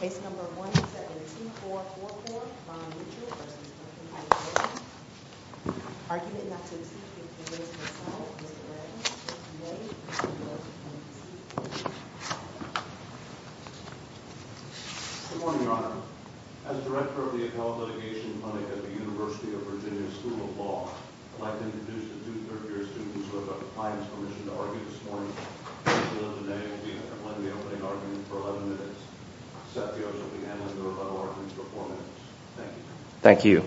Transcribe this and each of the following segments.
Case No. 17444, Vaughn Mitchell v. Duncan MacLaren Argument not to exceed 15 days in a cell, Mr. MacLaren. Good morning, Your Honor. As Director of the Account Litigation Clinic at the University of Virginia School of Law, I'd like to introduce the two third-year students who have got compliance permission to argue this morning. Angela Denae will be handling the opening argument for 11 minutes. Seth Yost will be handling the rebuttal argument for 4 minutes. Thank you. Thank you.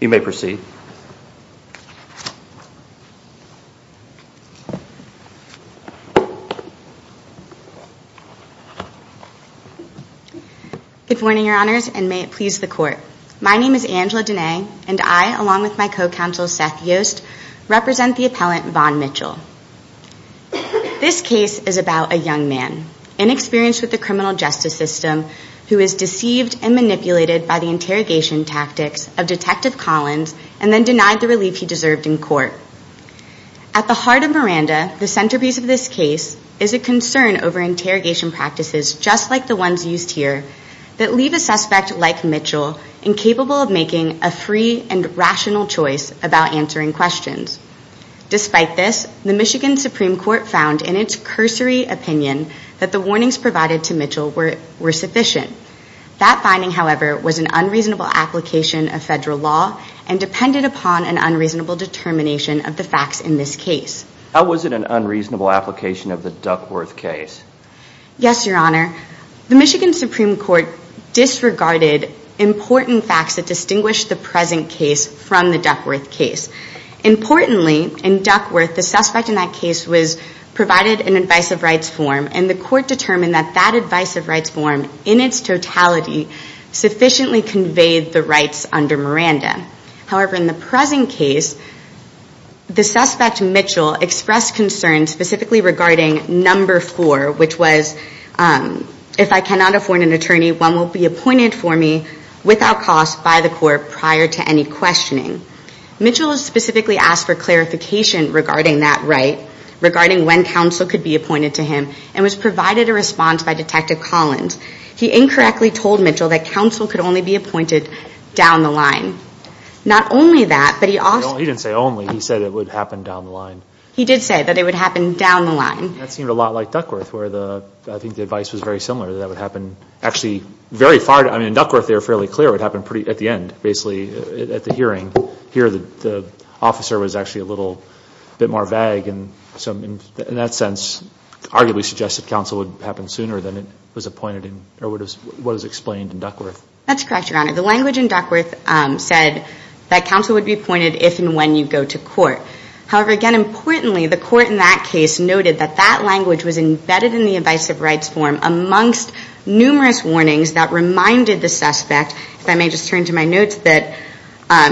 You may proceed. Good morning, Your Honors, and may it please the Court. My name is Angela Denae, and I, along with my co-counsel Seth Yost, represent the appellant Vaughn Mitchell. This case is about a young man, inexperienced with the criminal justice system, who is deceived and manipulated by the interrogation tactics of Detective Collins and then denied the relief he deserved in court. At the heart of Miranda, the centerpiece of this case is a concern over interrogation practices, just like the ones used here, that leave a suspect like Mitchell incapable of making a free and rational choice about answering questions. Despite this, the Michigan Supreme Court found in its cursory opinion that the warnings provided to Mitchell were sufficient. That finding, however, was an unreasonable application of federal law and depended upon an unreasonable determination of the facts in this case. How was it an unreasonable application of the Duckworth case? Yes, Your Honor, the Michigan Supreme Court disregarded important facts that distinguish the present case from the Duckworth case. Importantly, in Duckworth, the suspect in that case was provided an advice of rights form, and the Court determined that that advice of rights form, in its totality, sufficiently conveyed the rights under Miranda. However, in the present case, the suspect Mitchell expressed concern specifically regarding number four, which was, if I cannot afford an attorney, one will be appointed for me without cost by the court prior to any questioning. Mitchell specifically asked for clarification regarding that right, regarding when counsel could be appointed to him, and was provided a response by Detective Collins. He incorrectly told Mitchell that counsel could only be appointed down the line. Not only that, but he also... He didn't say only. He said it would happen down the line. He did say that it would happen down the line. That seemed a lot like Duckworth, where the... I think the advice was very similar, that that would happen actually very far... I mean, in Duckworth, they were fairly clear it would happen pretty... at the end, basically, at the hearing. Here, the officer was actually a little bit more vague, and so, in that sense, arguably suggested counsel would happen sooner than it was appointed in... or what was explained in Duckworth. That's correct, Your Honor. The language in Duckworth said that counsel would be appointed if and when you go to court. However, again, importantly, the court in that case noted that that language was embedded in the Advice of Rights form amongst numerous warnings that reminded the suspect, if I may just turn to my notes, that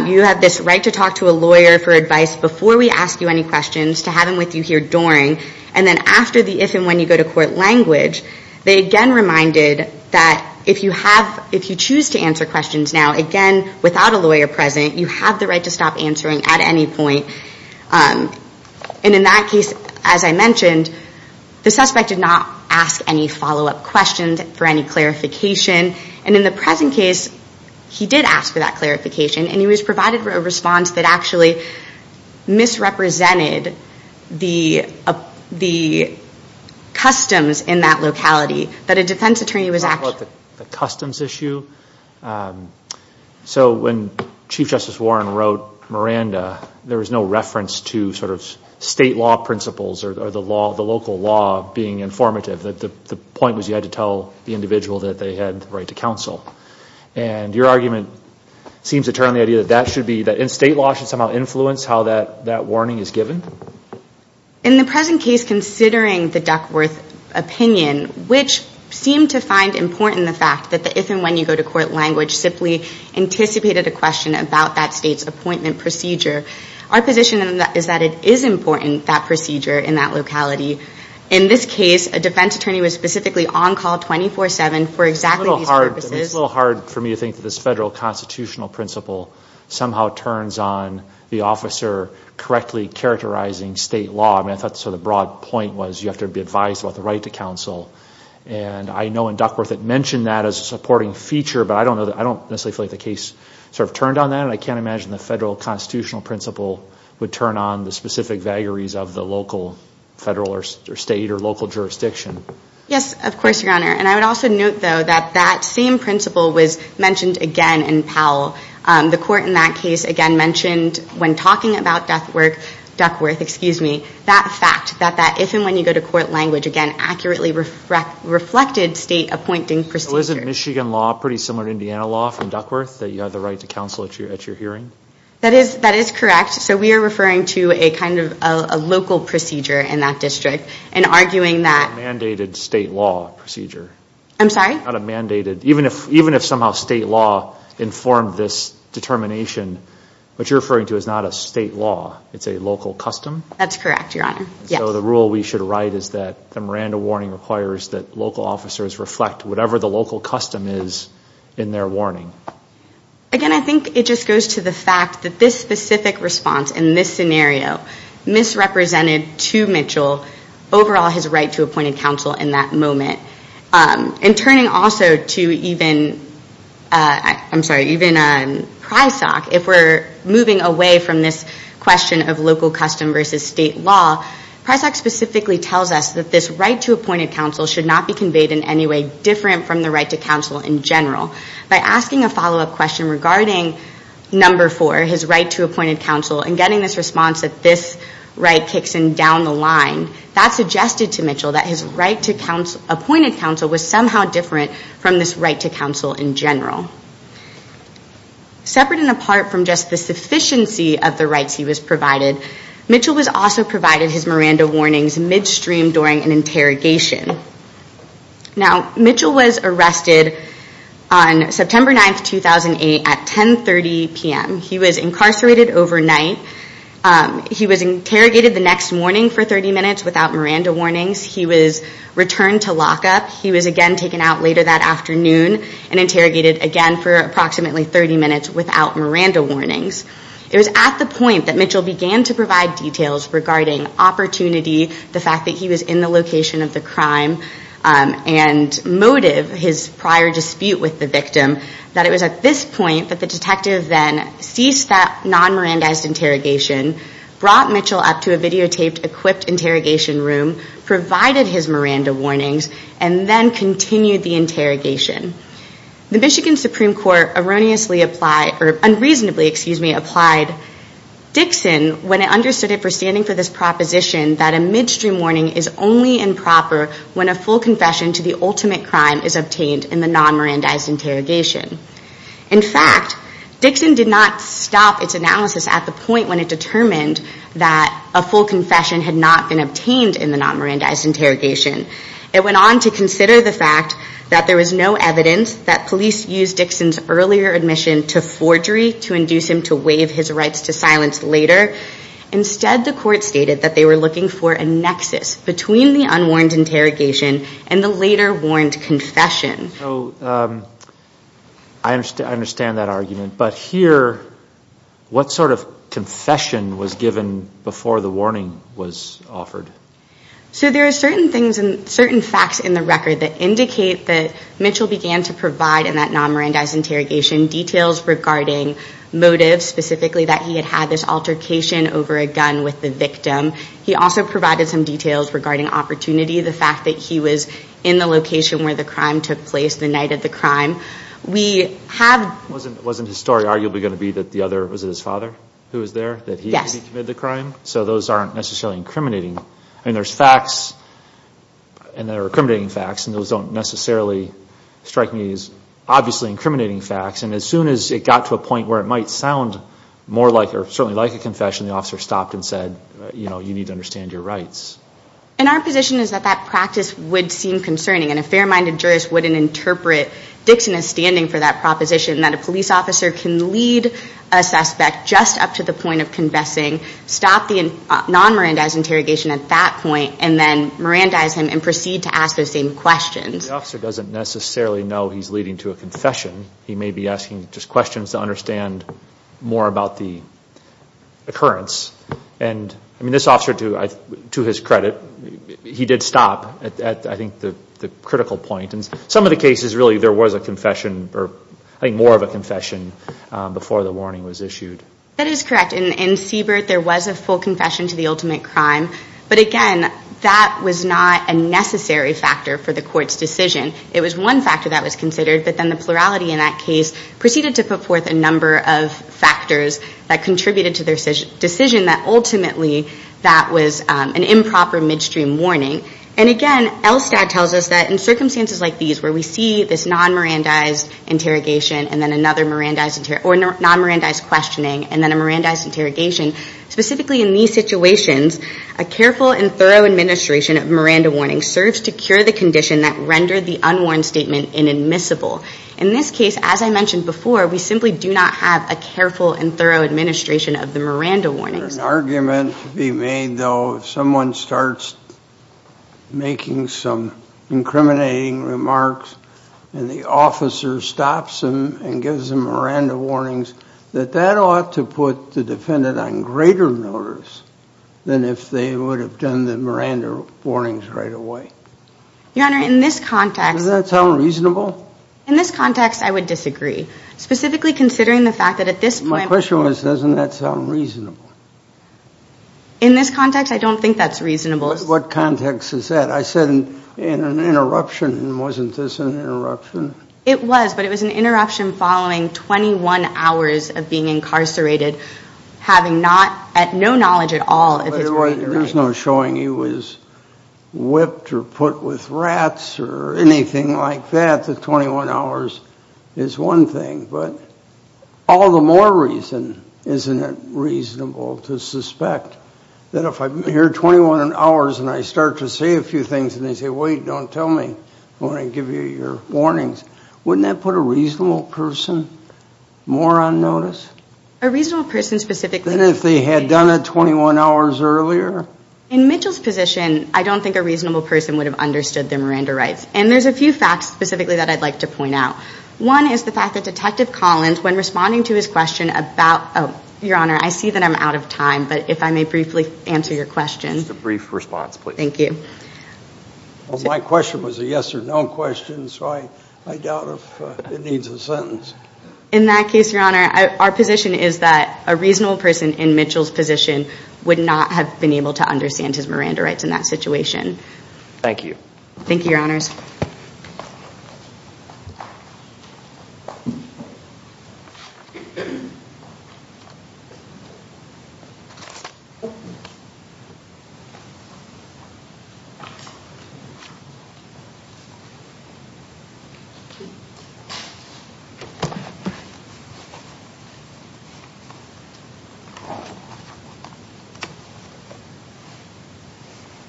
you have this right to talk to a lawyer for advice before we ask you any questions, to have him with you here during, and then after the if and when you go to court language. They again reminded that if you have... if you choose to answer questions now, again, without a lawyer present, you have the right to stop answering at any point. And in that case, as I mentioned, the suspect did not ask any follow-up questions for any clarification, and in the present case, he did ask for that clarification, and he was provided a response that actually misrepresented the customs in that locality, that a defense attorney was actually... So when Chief Justice Warren wrote Miranda, there was no reference to sort of state law principles or the local law being informative. The point was you had to tell the individual that they had the right to counsel. And your argument seems to turn on the idea that that should be... that state law should somehow influence how that warning is given? In the present case, considering the Duckworth opinion, which seemed to find important the fact that the if and when you go to court language simply anticipated a question about that state's appointment procedure, our position is that it is important, that procedure in that locality. In this case, a defense attorney was specifically on call 24-7 for exactly these purposes. It's a little hard for me to think that this federal constitutional principle somehow turns on the officer correctly characterizing state law. I mean, I thought sort of the broad point was you have to be advised about the right to counsel. And I know in Duckworth it mentioned that as a supporting feature, but I don't necessarily feel like the case sort of turned on that. I can't imagine the federal constitutional principle would turn on the specific vagaries of the local federal or state or local jurisdiction. Yes, of course, Your Honor. And I would also note, though, that that same principle was mentioned again in Powell. The court in that case, again, mentioned when talking about Duckworth, that fact that that if and when you go to court language, again, accurately reflected state appointing procedure. So isn't Michigan law pretty similar to Indiana law from Duckworth, that you have the right to counsel at your hearing? That is correct. So we are referring to a kind of a local procedure in that district and arguing that. A mandated state law procedure. I'm sorry? Not a mandated. Even if somehow state law informed this determination, what you're referring to is not a state law. It's a local custom? That's correct, Your Honor. Yes. So the rule we should write is that the Miranda warning requires that local officers reflect whatever the local custom is in their warning. Again, I think it just goes to the fact that this specific response in this scenario misrepresented to Mitchell overall his right to appointed counsel in that moment. And turning also to even Prysock, if we're moving away from this question of local custom versus state law, Prysock specifically tells us that this right to appointed counsel should not be conveyed in any way different from the right to counsel in general. By asking a follow-up question regarding number four, his right to appointed counsel, and getting this response that this right kicks in down the line, that suggested to Mitchell that his right to appointed counsel was somehow different from this right to counsel in general. Separate and apart from just the sufficiency of the rights he was provided, Mitchell was also provided his Miranda warnings midstream during an interrogation. Now, Mitchell was arrested on September 9, 2008, at 10.30 p.m. He was incarcerated overnight. He was interrogated the next morning for 30 minutes without Miranda warnings. He was returned to lockup. He was again taken out later that afternoon and interrogated again for approximately 30 minutes without Miranda warnings. It was at the point that Mitchell began to provide details regarding opportunity, the fact that he was in the location of the crime, and motive, his prior dispute with the victim, that it was at this point that the detective then ceased that non-Miranda-ized interrogation, brought Mitchell up to a videotaped equipped interrogation room, provided his Miranda warnings, and then continued the interrogation. The Michigan Supreme Court unreasonably applied Dixon when it understood it for standing for this proposition that a midstream warning is only improper when a full confession to the ultimate crime is obtained in the non-Miranda-ized interrogation. In fact, Dixon did not stop its analysis at the point when it determined that a full confession had not been obtained in the non-Miranda-ized interrogation. It went on to consider the fact that there was no evidence that police used Dixon's earlier admission to forgery to induce him to waive his rights to silence later. Instead, the court stated that they were looking for a nexus between the unwarned interrogation and the later warned confession. So I understand that argument, So there are certain things and certain facts in the record that indicate that Mitchell began to provide in that non-Miranda-ized interrogation details regarding motives, specifically that he had had this altercation over a gun with the victim. He also provided some details regarding opportunity, the fact that he was in the location where the crime took place, the night of the crime. We have... Wasn't his story arguably going to be that the other... Was it his father who was there? Yes. So those aren't necessarily incriminating. I mean, there's facts and there are incriminating facts and those don't necessarily strike me as obviously incriminating facts. And as soon as it got to a point where it might sound more like or certainly like a confession, the officer stopped and said, you know, you need to understand your rights. And our position is that that practice would seem concerning and a fair-minded jurist wouldn't interpret Dixon as standing for that proposition, that a police officer can lead a suspect just up to the point of confessing, stop the non-Miranda-ized interrogation at that point and then Miranda-ize him and proceed to ask those same questions. The officer doesn't necessarily know he's leading to a confession. He may be asking just questions to understand more about the occurrence. And, I mean, this officer, to his credit, he did stop at, I think, the critical point. In some of the cases, really, there was a confession or, I think, more of a confession before the warning was issued. That is correct. In Siebert, there was a full confession to the ultimate crime. But, again, that was not a necessary factor for the court's decision. It was one factor that was considered, but then the plurality in that case proceeded to put forth a number of factors that contributed to their decision that ultimately that was an improper midstream warning. And, again, LSTAT tells us that in circumstances like these where we see this non-Miranda-ized interrogation or non-Miranda-ized questioning and then a Miranda-ized interrogation, specifically in these situations, a careful and thorough administration of Miranda warnings serves to cure the condition that rendered the unwarned statement inadmissible. In this case, as I mentioned before, we simply do not have a careful and thorough administration of the Miranda warnings. Is there an argument to be made, though, if someone starts making some incriminating remarks and the officer stops them and gives them Miranda warnings, that that ought to put the defendant on greater notice than if they would have done the Miranda warnings right away? Your Honor, in this context— Does that sound reasonable? In this context, I would disagree, specifically considering the fact that at this point— The question was, doesn't that sound reasonable? In this context, I don't think that's reasonable. What context is that? I said in an interruption, and wasn't this an interruption? It was, but it was an interruption following 21 hours of being incarcerated, having no knowledge at all of his Miranda rights. There's no showing he was whipped or put with rats or anything like that. The 21 hours is one thing. But all the more reason, isn't it reasonable to suspect that if I'm here 21 hours and I start to say a few things and they say, wait, don't tell me. I want to give you your warnings. Wouldn't that put a reasonable person more on notice? A reasonable person specifically— Than if they had done it 21 hours earlier? In Mitchell's position, I don't think a reasonable person would have understood their Miranda rights. And there's a few facts specifically that I'd like to point out. One is the fact that Detective Collins, when responding to his question about— Your Honor, I see that I'm out of time, but if I may briefly answer your question. Just a brief response, please. Thank you. My question was a yes or no question, so I doubt if it needs a sentence. In that case, Your Honor, our position is that a reasonable person in Mitchell's position would not have been able to understand his Miranda rights in that situation. Thank you. Thank you, Your Honors. Thank you.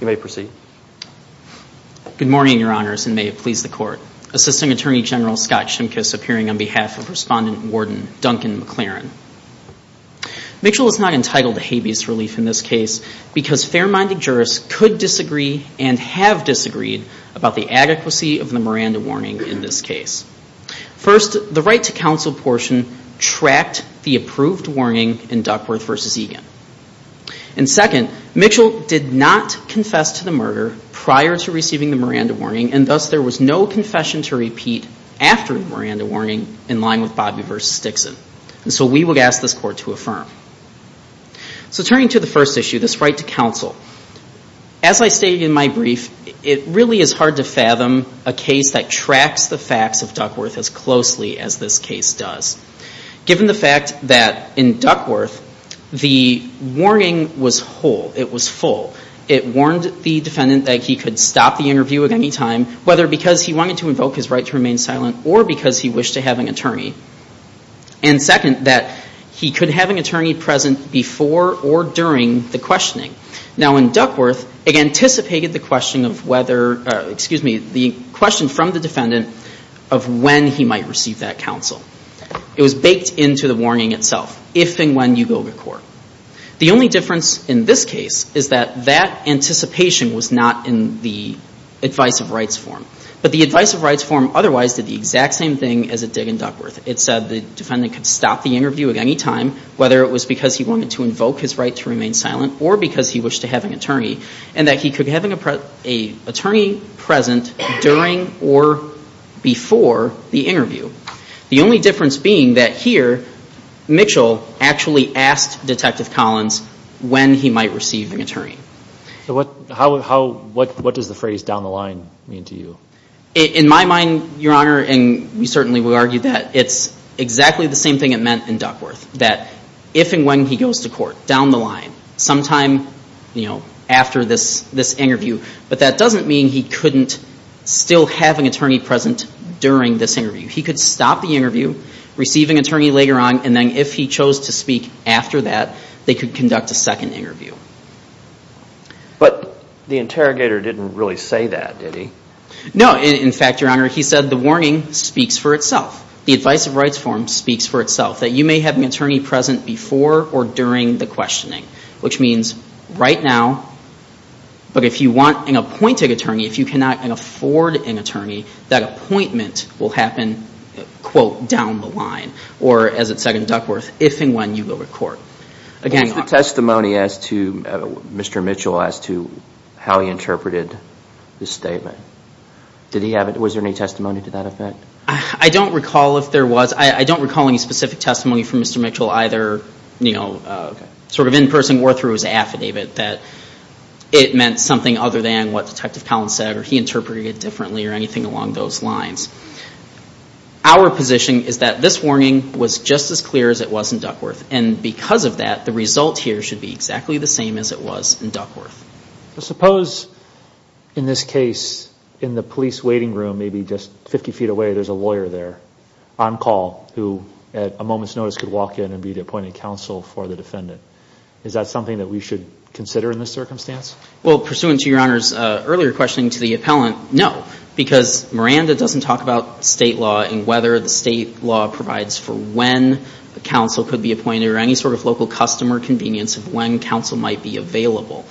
You may proceed. Good morning, Your Honors, and may it please the Court. Assisting Attorney General Scott Shimkus appearing on behalf of Respondent Warden Duncan McLaren. Mitchell is not entitled to habeas relief in this case because fair-minded jurists could disagree and have disagreed about the adequacy of the Miranda warning in this case. First, the Right to Counsel portion tracked the approved warning in Duckworth v. Egan. And second, Mitchell did not confess to the murder prior to receiving the Miranda warning, and thus there was no confession to repeat after the Miranda warning in line with Bobby v. Dixon. And so we would ask this Court to affirm. So turning to the first issue, this Right to Counsel, as I stated in my brief, it really is hard to fathom a case that tracks the facts of Duckworth as closely as this case does. Given the fact that in Duckworth, the warning was whole, it was full. It warned the defendant that he could stop the interview at any time, whether because he wanted to invoke his right to remain silent or because he wished to have an attorney. And second, that he could have an attorney present before or during the questioning. Now in Duckworth, it anticipated the question of whether, excuse me, the question from the defendant of when he might receive that counsel. It was baked into the warning itself, if and when you go to court. The only difference in this case is that that anticipation was not in the Advice of Rights form. But the Advice of Rights form otherwise did the exact same thing as it did in Duckworth. It said the defendant could stop the interview at any time, whether it was because he wanted to invoke his right to remain silent or because he wished to have an attorney, and that he could have an attorney present during or before the interview. The only difference being that here, Mitchell actually asked Detective Collins when he might receive an attorney. So what does the phrase down the line mean to you? In my mind, Your Honor, and we certainly would argue that, it's exactly the same thing it meant in Duckworth, that if and when he goes to court, down the line, sometime after this interview. But that doesn't mean he couldn't still have an attorney present during this interview. He could stop the interview, receive an attorney later on, and then if he chose to speak after that, they could conduct a second interview. But the interrogator didn't really say that, did he? No. In fact, Your Honor, he said the warning speaks for itself. The Advice of Rights form speaks for itself, that you may have an attorney present before or during the questioning, which means right now, but if you want an appointed attorney, if you cannot afford an attorney, that appointment will happen, quote, down the line. Or, as it said in Duckworth, if and when you go to court. Again, Your Honor. What was the testimony as to Mr. Mitchell, as to how he interpreted the statement? Did he have it? Was there any testimony to that effect? I don't recall if there was. I don't recall any specific testimony from Mr. Mitchell, either sort of in person or through his affidavit, that it meant something other than what Detective Collins said or he interpreted it differently or anything along those lines. Our position is that this warning was just as clear as it was in Duckworth, and because of that, the result here should be exactly the same as it was in Duckworth. Suppose, in this case, in the police waiting room, maybe just 50 feet away, there's a lawyer there, on call, who at a moment's notice could walk in and be the appointed counsel for the defendant. Is that something that we should consider in this circumstance? Well, pursuant to Your Honor's earlier question to the appellant, no, because Miranda doesn't talk about state law and whether the state law provides for when a counsel could be appointed or any sort of local customer convenience of when counsel might be available.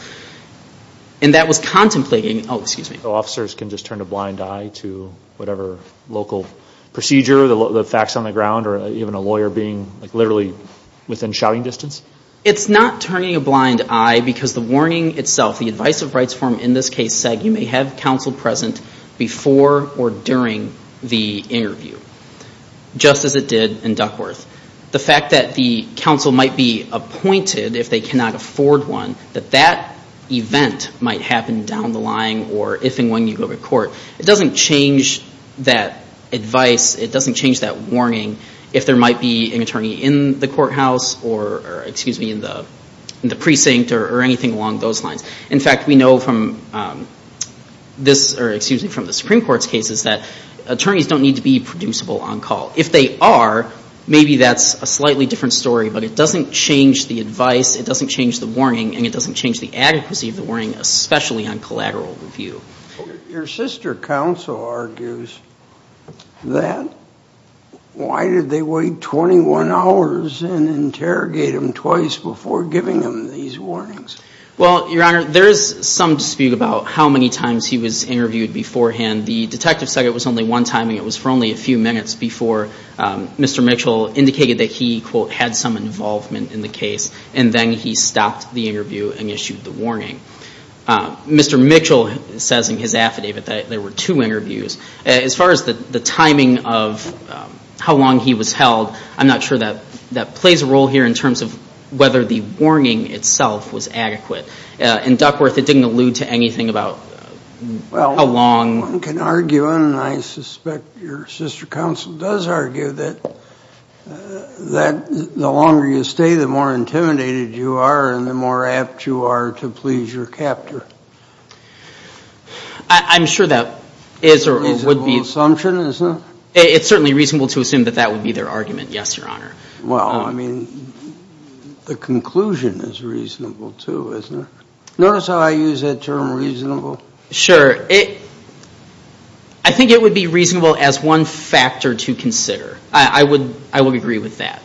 And that was contemplating, oh, excuse me. Officers can just turn a blind eye to whatever local procedure, the facts on the ground, or even a lawyer being literally within shouting distance? It's not turning a blind eye because the warning itself, the advice of rights form in this case said you may have counsel present before or during the interview, just as it did in Duckworth. The fact that the counsel might be appointed if they cannot afford one, that that event might happen down the line or if and when you go to court, it doesn't change that advice, it doesn't change that warning if there might be an attorney in the courthouse or, excuse me, in the precinct or anything along those lines. In fact, we know from the Supreme Court's cases that attorneys don't need to be producible on call. If they are, maybe that's a slightly different story, but it doesn't change the advice, it doesn't change the warning, and it doesn't change the adequacy of the warning, especially on collateral review. Your sister counsel argues that. Why did they wait 21 hours and interrogate him twice before giving him these warnings? Well, Your Honor, there is some dispute about how many times he was interviewed beforehand. The detective said it was only one time and it was for only a few minutes before Mr. Mitchell indicated that he, quote, had some involvement in the case and then he stopped the interview and issued the warning. Mr. Mitchell says in his affidavit that there were two interviews. As far as the timing of how long he was held, I'm not sure that plays a role here in terms of whether the warning itself was adequate. In Duckworth, it didn't allude to anything about how long. Well, one can argue, and I suspect your sister counsel does argue, that the longer you stay, the more intimidated you are and the more apt you are to please your captor. I'm sure that is or would be... A reasonable assumption, isn't it? It's certainly reasonable to assume that that would be their argument, yes, Your Honor. Well, I mean, the conclusion is reasonable, too, isn't it? Notice how I use that term, reasonable. Sure. I think it would be reasonable as one factor to consider. I would agree with that.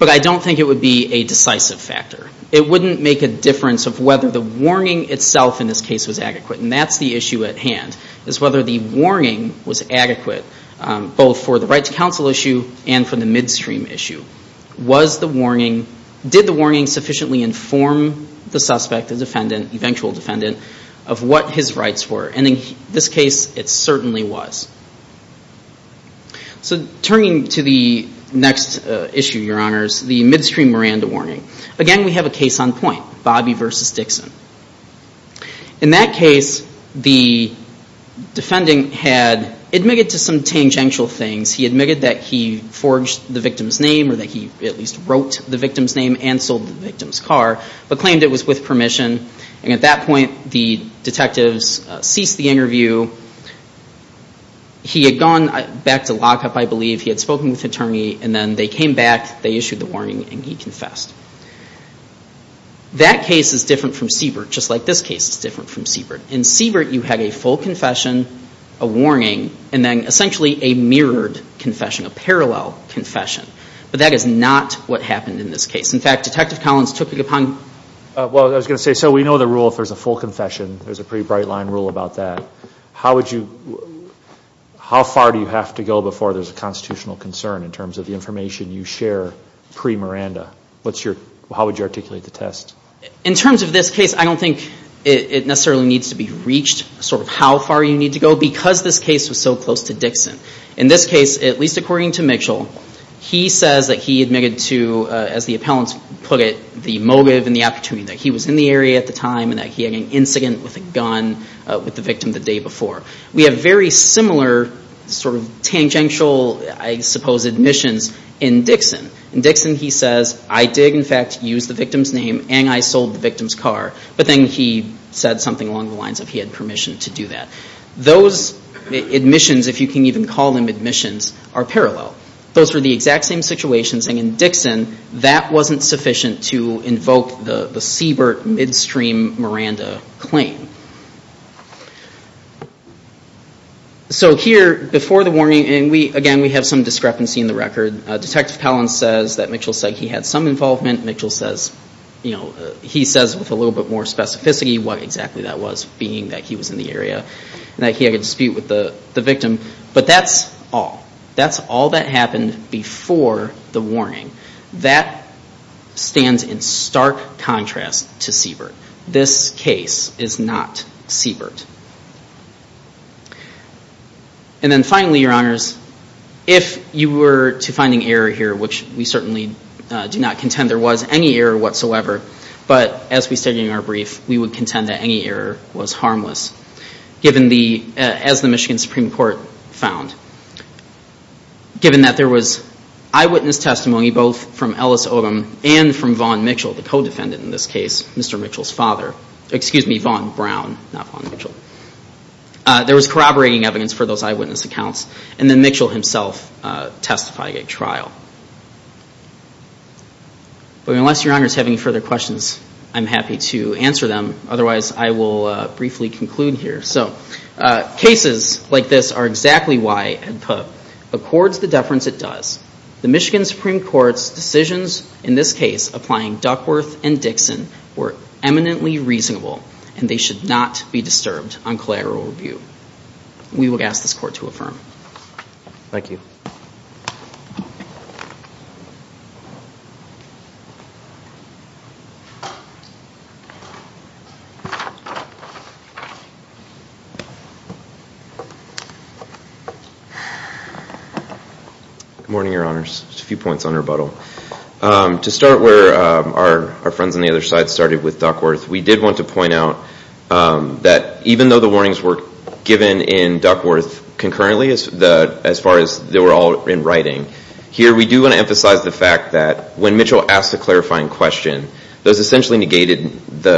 But I don't think it would be a decisive factor. It wouldn't make a difference of whether the warning itself in this case was adequate. And that's the issue at hand, is whether the warning was adequate, both for the right-to-counsel issue and for the midstream issue. Did the warning sufficiently inform the suspect, the defendant, the eventual defendant, of what his rights were? And in this case, it certainly was. So turning to the next issue, Your Honors, the midstream Miranda warning. Again, we have a case on point, Bobby v. Dixon. In that case, the defendant had admitted to some tangential things. He admitted that he forged the victim's name or that he at least wrote the victim's name and sold the victim's car, but claimed it was with permission. And at that point, the detectives ceased the interview. He had gone back to lockup, I believe. He had spoken with an attorney, and then they came back, they issued the warning, and he confessed. That case is different from Siebert, just like this case is different from Siebert. In Siebert, you had a full confession, a warning, and then essentially a mirrored confession, a parallel confession. But that is not what happened in this case. In fact, Detective Collins took it upon – Well, I was going to say, so we know the rule if there's a full confession. There's a pretty bright-line rule about that. How would you – how far do you have to go before there's a constitutional concern in terms of the information you share pre-Miranda? What's your – how would you articulate the test? In terms of this case, I don't think it necessarily needs to be reached, sort of how far you need to go, because this case was so close to Dixon. In this case, at least according to Mitchell, he says that he admitted to, as the appellant put it, the motive and the opportunity that he was in the area at the time and that he had an incident with a gun with the victim the day before. We have very similar sort of tangential, I suppose, admissions in Dixon. In Dixon, he says, I did, in fact, use the victim's name and I sold the victim's car. But then he said something along the lines of he had permission to do that. Those admissions, if you can even call them admissions, are parallel. Those were the exact same situations. In Dixon, that wasn't sufficient to invoke the Siebert midstream Miranda claim. So here, before the warning, and again, we have some discrepancy in the record. Detective Pellin says that Mitchell said he had some involvement. Mitchell says, you know, he says with a little bit more specificity what exactly that was, being that he was in the area and that he had a dispute with the victim. But that's all. That's all that happened before the warning. That stands in stark contrast to Siebert. This case is not Siebert. And then finally, Your Honors, if you were to find an error here, which we certainly do not contend there was any error whatsoever, but as we stated in our brief, we would contend that any error was harmless. Given the, as the Michigan Supreme Court found, given that there was eyewitness testimony both from Ellis Odom and from Vaughn Mitchell, the co-defendant in this case, Mr. Mitchell's father. Excuse me, Vaughn Brown, not Vaughn Mitchell. There was corroborating evidence for those eyewitness accounts. And then Mitchell himself testified at trial. But unless Your Honors have any further questions, I'm happy to answer them. Otherwise, I will briefly conclude here. So cases like this are exactly why Ed Pook accords the deference it does. The Michigan Supreme Court's decisions in this case applying Duckworth and Dixon were eminently reasonable and they should not be disturbed on collateral review. We would ask this Court to affirm. Thank you. Good morning, Your Honors. Just a few points on rebuttal. To start where our friends on the other side started with Duckworth, we did want to point out that even though the warnings were given in Duckworth concurrently, as far as they were all in writing, here we do want to emphasize the fact that when Mitchell asked the clarifying question, those essentially negated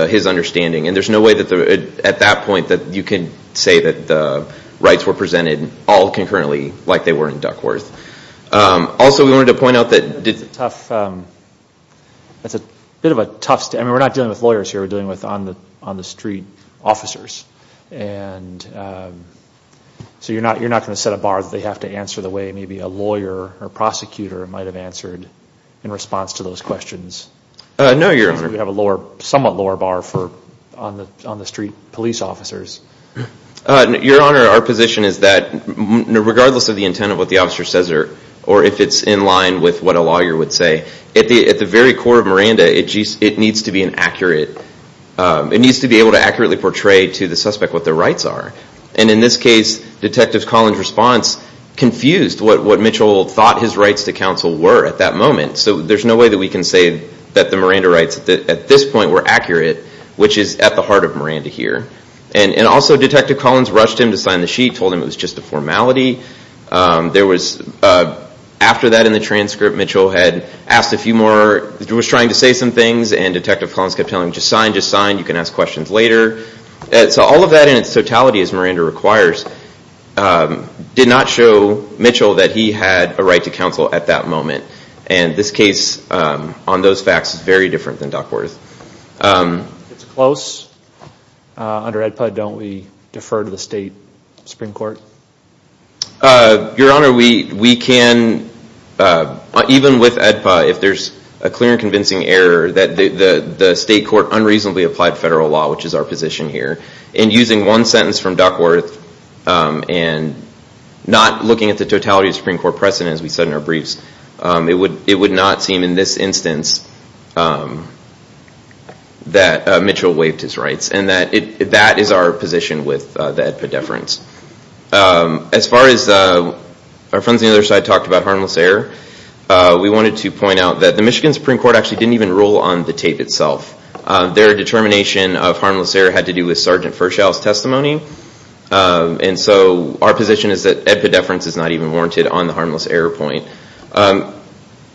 his understanding. And there's no way at that point that you can say that the rights were presented all concurrently like they were in Duckworth. Also, we wanted to point out that... I mean, we're not dealing with lawyers here. We're dealing with on-the-street officers. And so you're not going to set a bar that they have to answer the way maybe a lawyer or prosecutor might have answered in response to those questions. No, Your Honor. We have a somewhat lower bar for on-the-street police officers. Your Honor, our position is that regardless of the intent of what the officer says or if it's in line with what a lawyer would say, at the very core of Miranda, it needs to be an accurate... It needs to be able to accurately portray to the suspect what their rights are. And in this case, Detective Collins' response confused what Mitchell thought his rights to counsel were at that moment. So there's no way that we can say that the Miranda rights at this point were accurate, which is at the heart of Miranda here. And also, Detective Collins rushed him to sign the sheet, told him it was just a formality. There was, after that in the transcript, Mitchell had asked a few more, was trying to say some things, and Detective Collins kept telling him, just sign, just sign. You can ask questions later. So all of that in its totality, as Miranda requires, did not show Mitchell that he had a right to counsel at that moment. And this case, on those facts, is very different than Duckworth. It's close. Under AEDPA, don't we defer to the state Supreme Court? Your Honor, we can, even with AEDPA, if there's a clear and convincing error, that the state court unreasonably applied federal law, which is our position here, and using one sentence from Duckworth and not looking at the totality of the Supreme Court precedent, as we said in our briefs, it would not seem in this instance that Mitchell waived his rights. And that is our position with the AEDPA deference. As far as our friends on the other side talked about harmless error, we wanted to point out that the Michigan Supreme Court actually didn't even rule on the tape itself. Their determination of harmless error had to do with Sergeant Fershall's testimony. And so our position is that AEDPA deference is not even warranted on the harmless error point.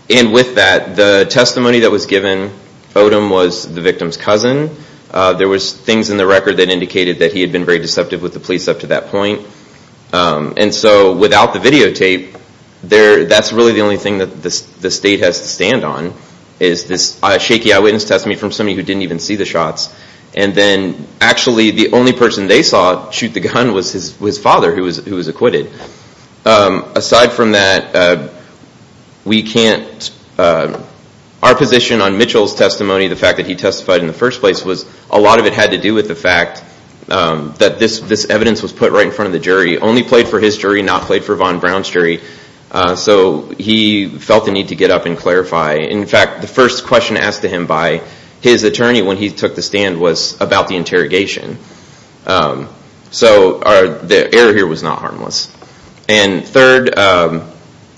And with that, the testimony that was given, Odom was the victim's cousin. There was things in the record that indicated that he had been very deceptive with the police up to that point. And so without the videotape, that's really the only thing that the state has to stand on, is this shaky eyewitness testimony from somebody who didn't even see the shots. And then actually the only person they saw shoot the gun was his father, who was acquitted. Aside from that, our position on Mitchell's testimony, the fact that he testified in the first place, was a lot of it had to do with the fact that this evidence was put right in front of the jury, only played for his jury, not played for Von Braun's jury. So he felt the need to get up and clarify. In fact, the first question asked to him by his attorney when he took the stand was about the interrogation. So the error here was not harmless. And third,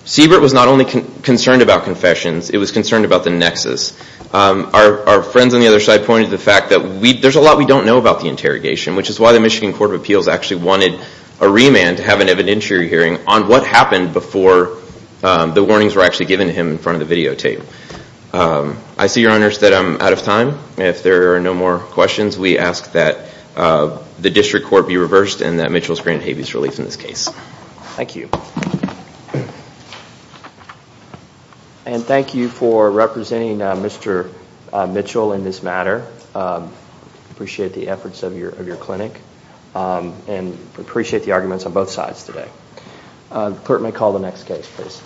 Siebert was not only concerned about confessions, it was concerned about the nexus. Our friends on the other side pointed to the fact that there's a lot we don't know about the interrogation, which is why the Michigan Court of Appeals actually wanted a remand to have an evidentiary hearing on what happened before the warnings were actually given to him in front of the videotape. I see, Your Honors, that I'm out of time. If there are no more questions, we ask that the district court be reversed and that Mitchell's granted habeas relief in this case. Thank you. And thank you for representing Mr. Mitchell in this matter. Appreciate the efforts of your clinic. And appreciate the arguments on both sides today. The clerk may call the next case, please.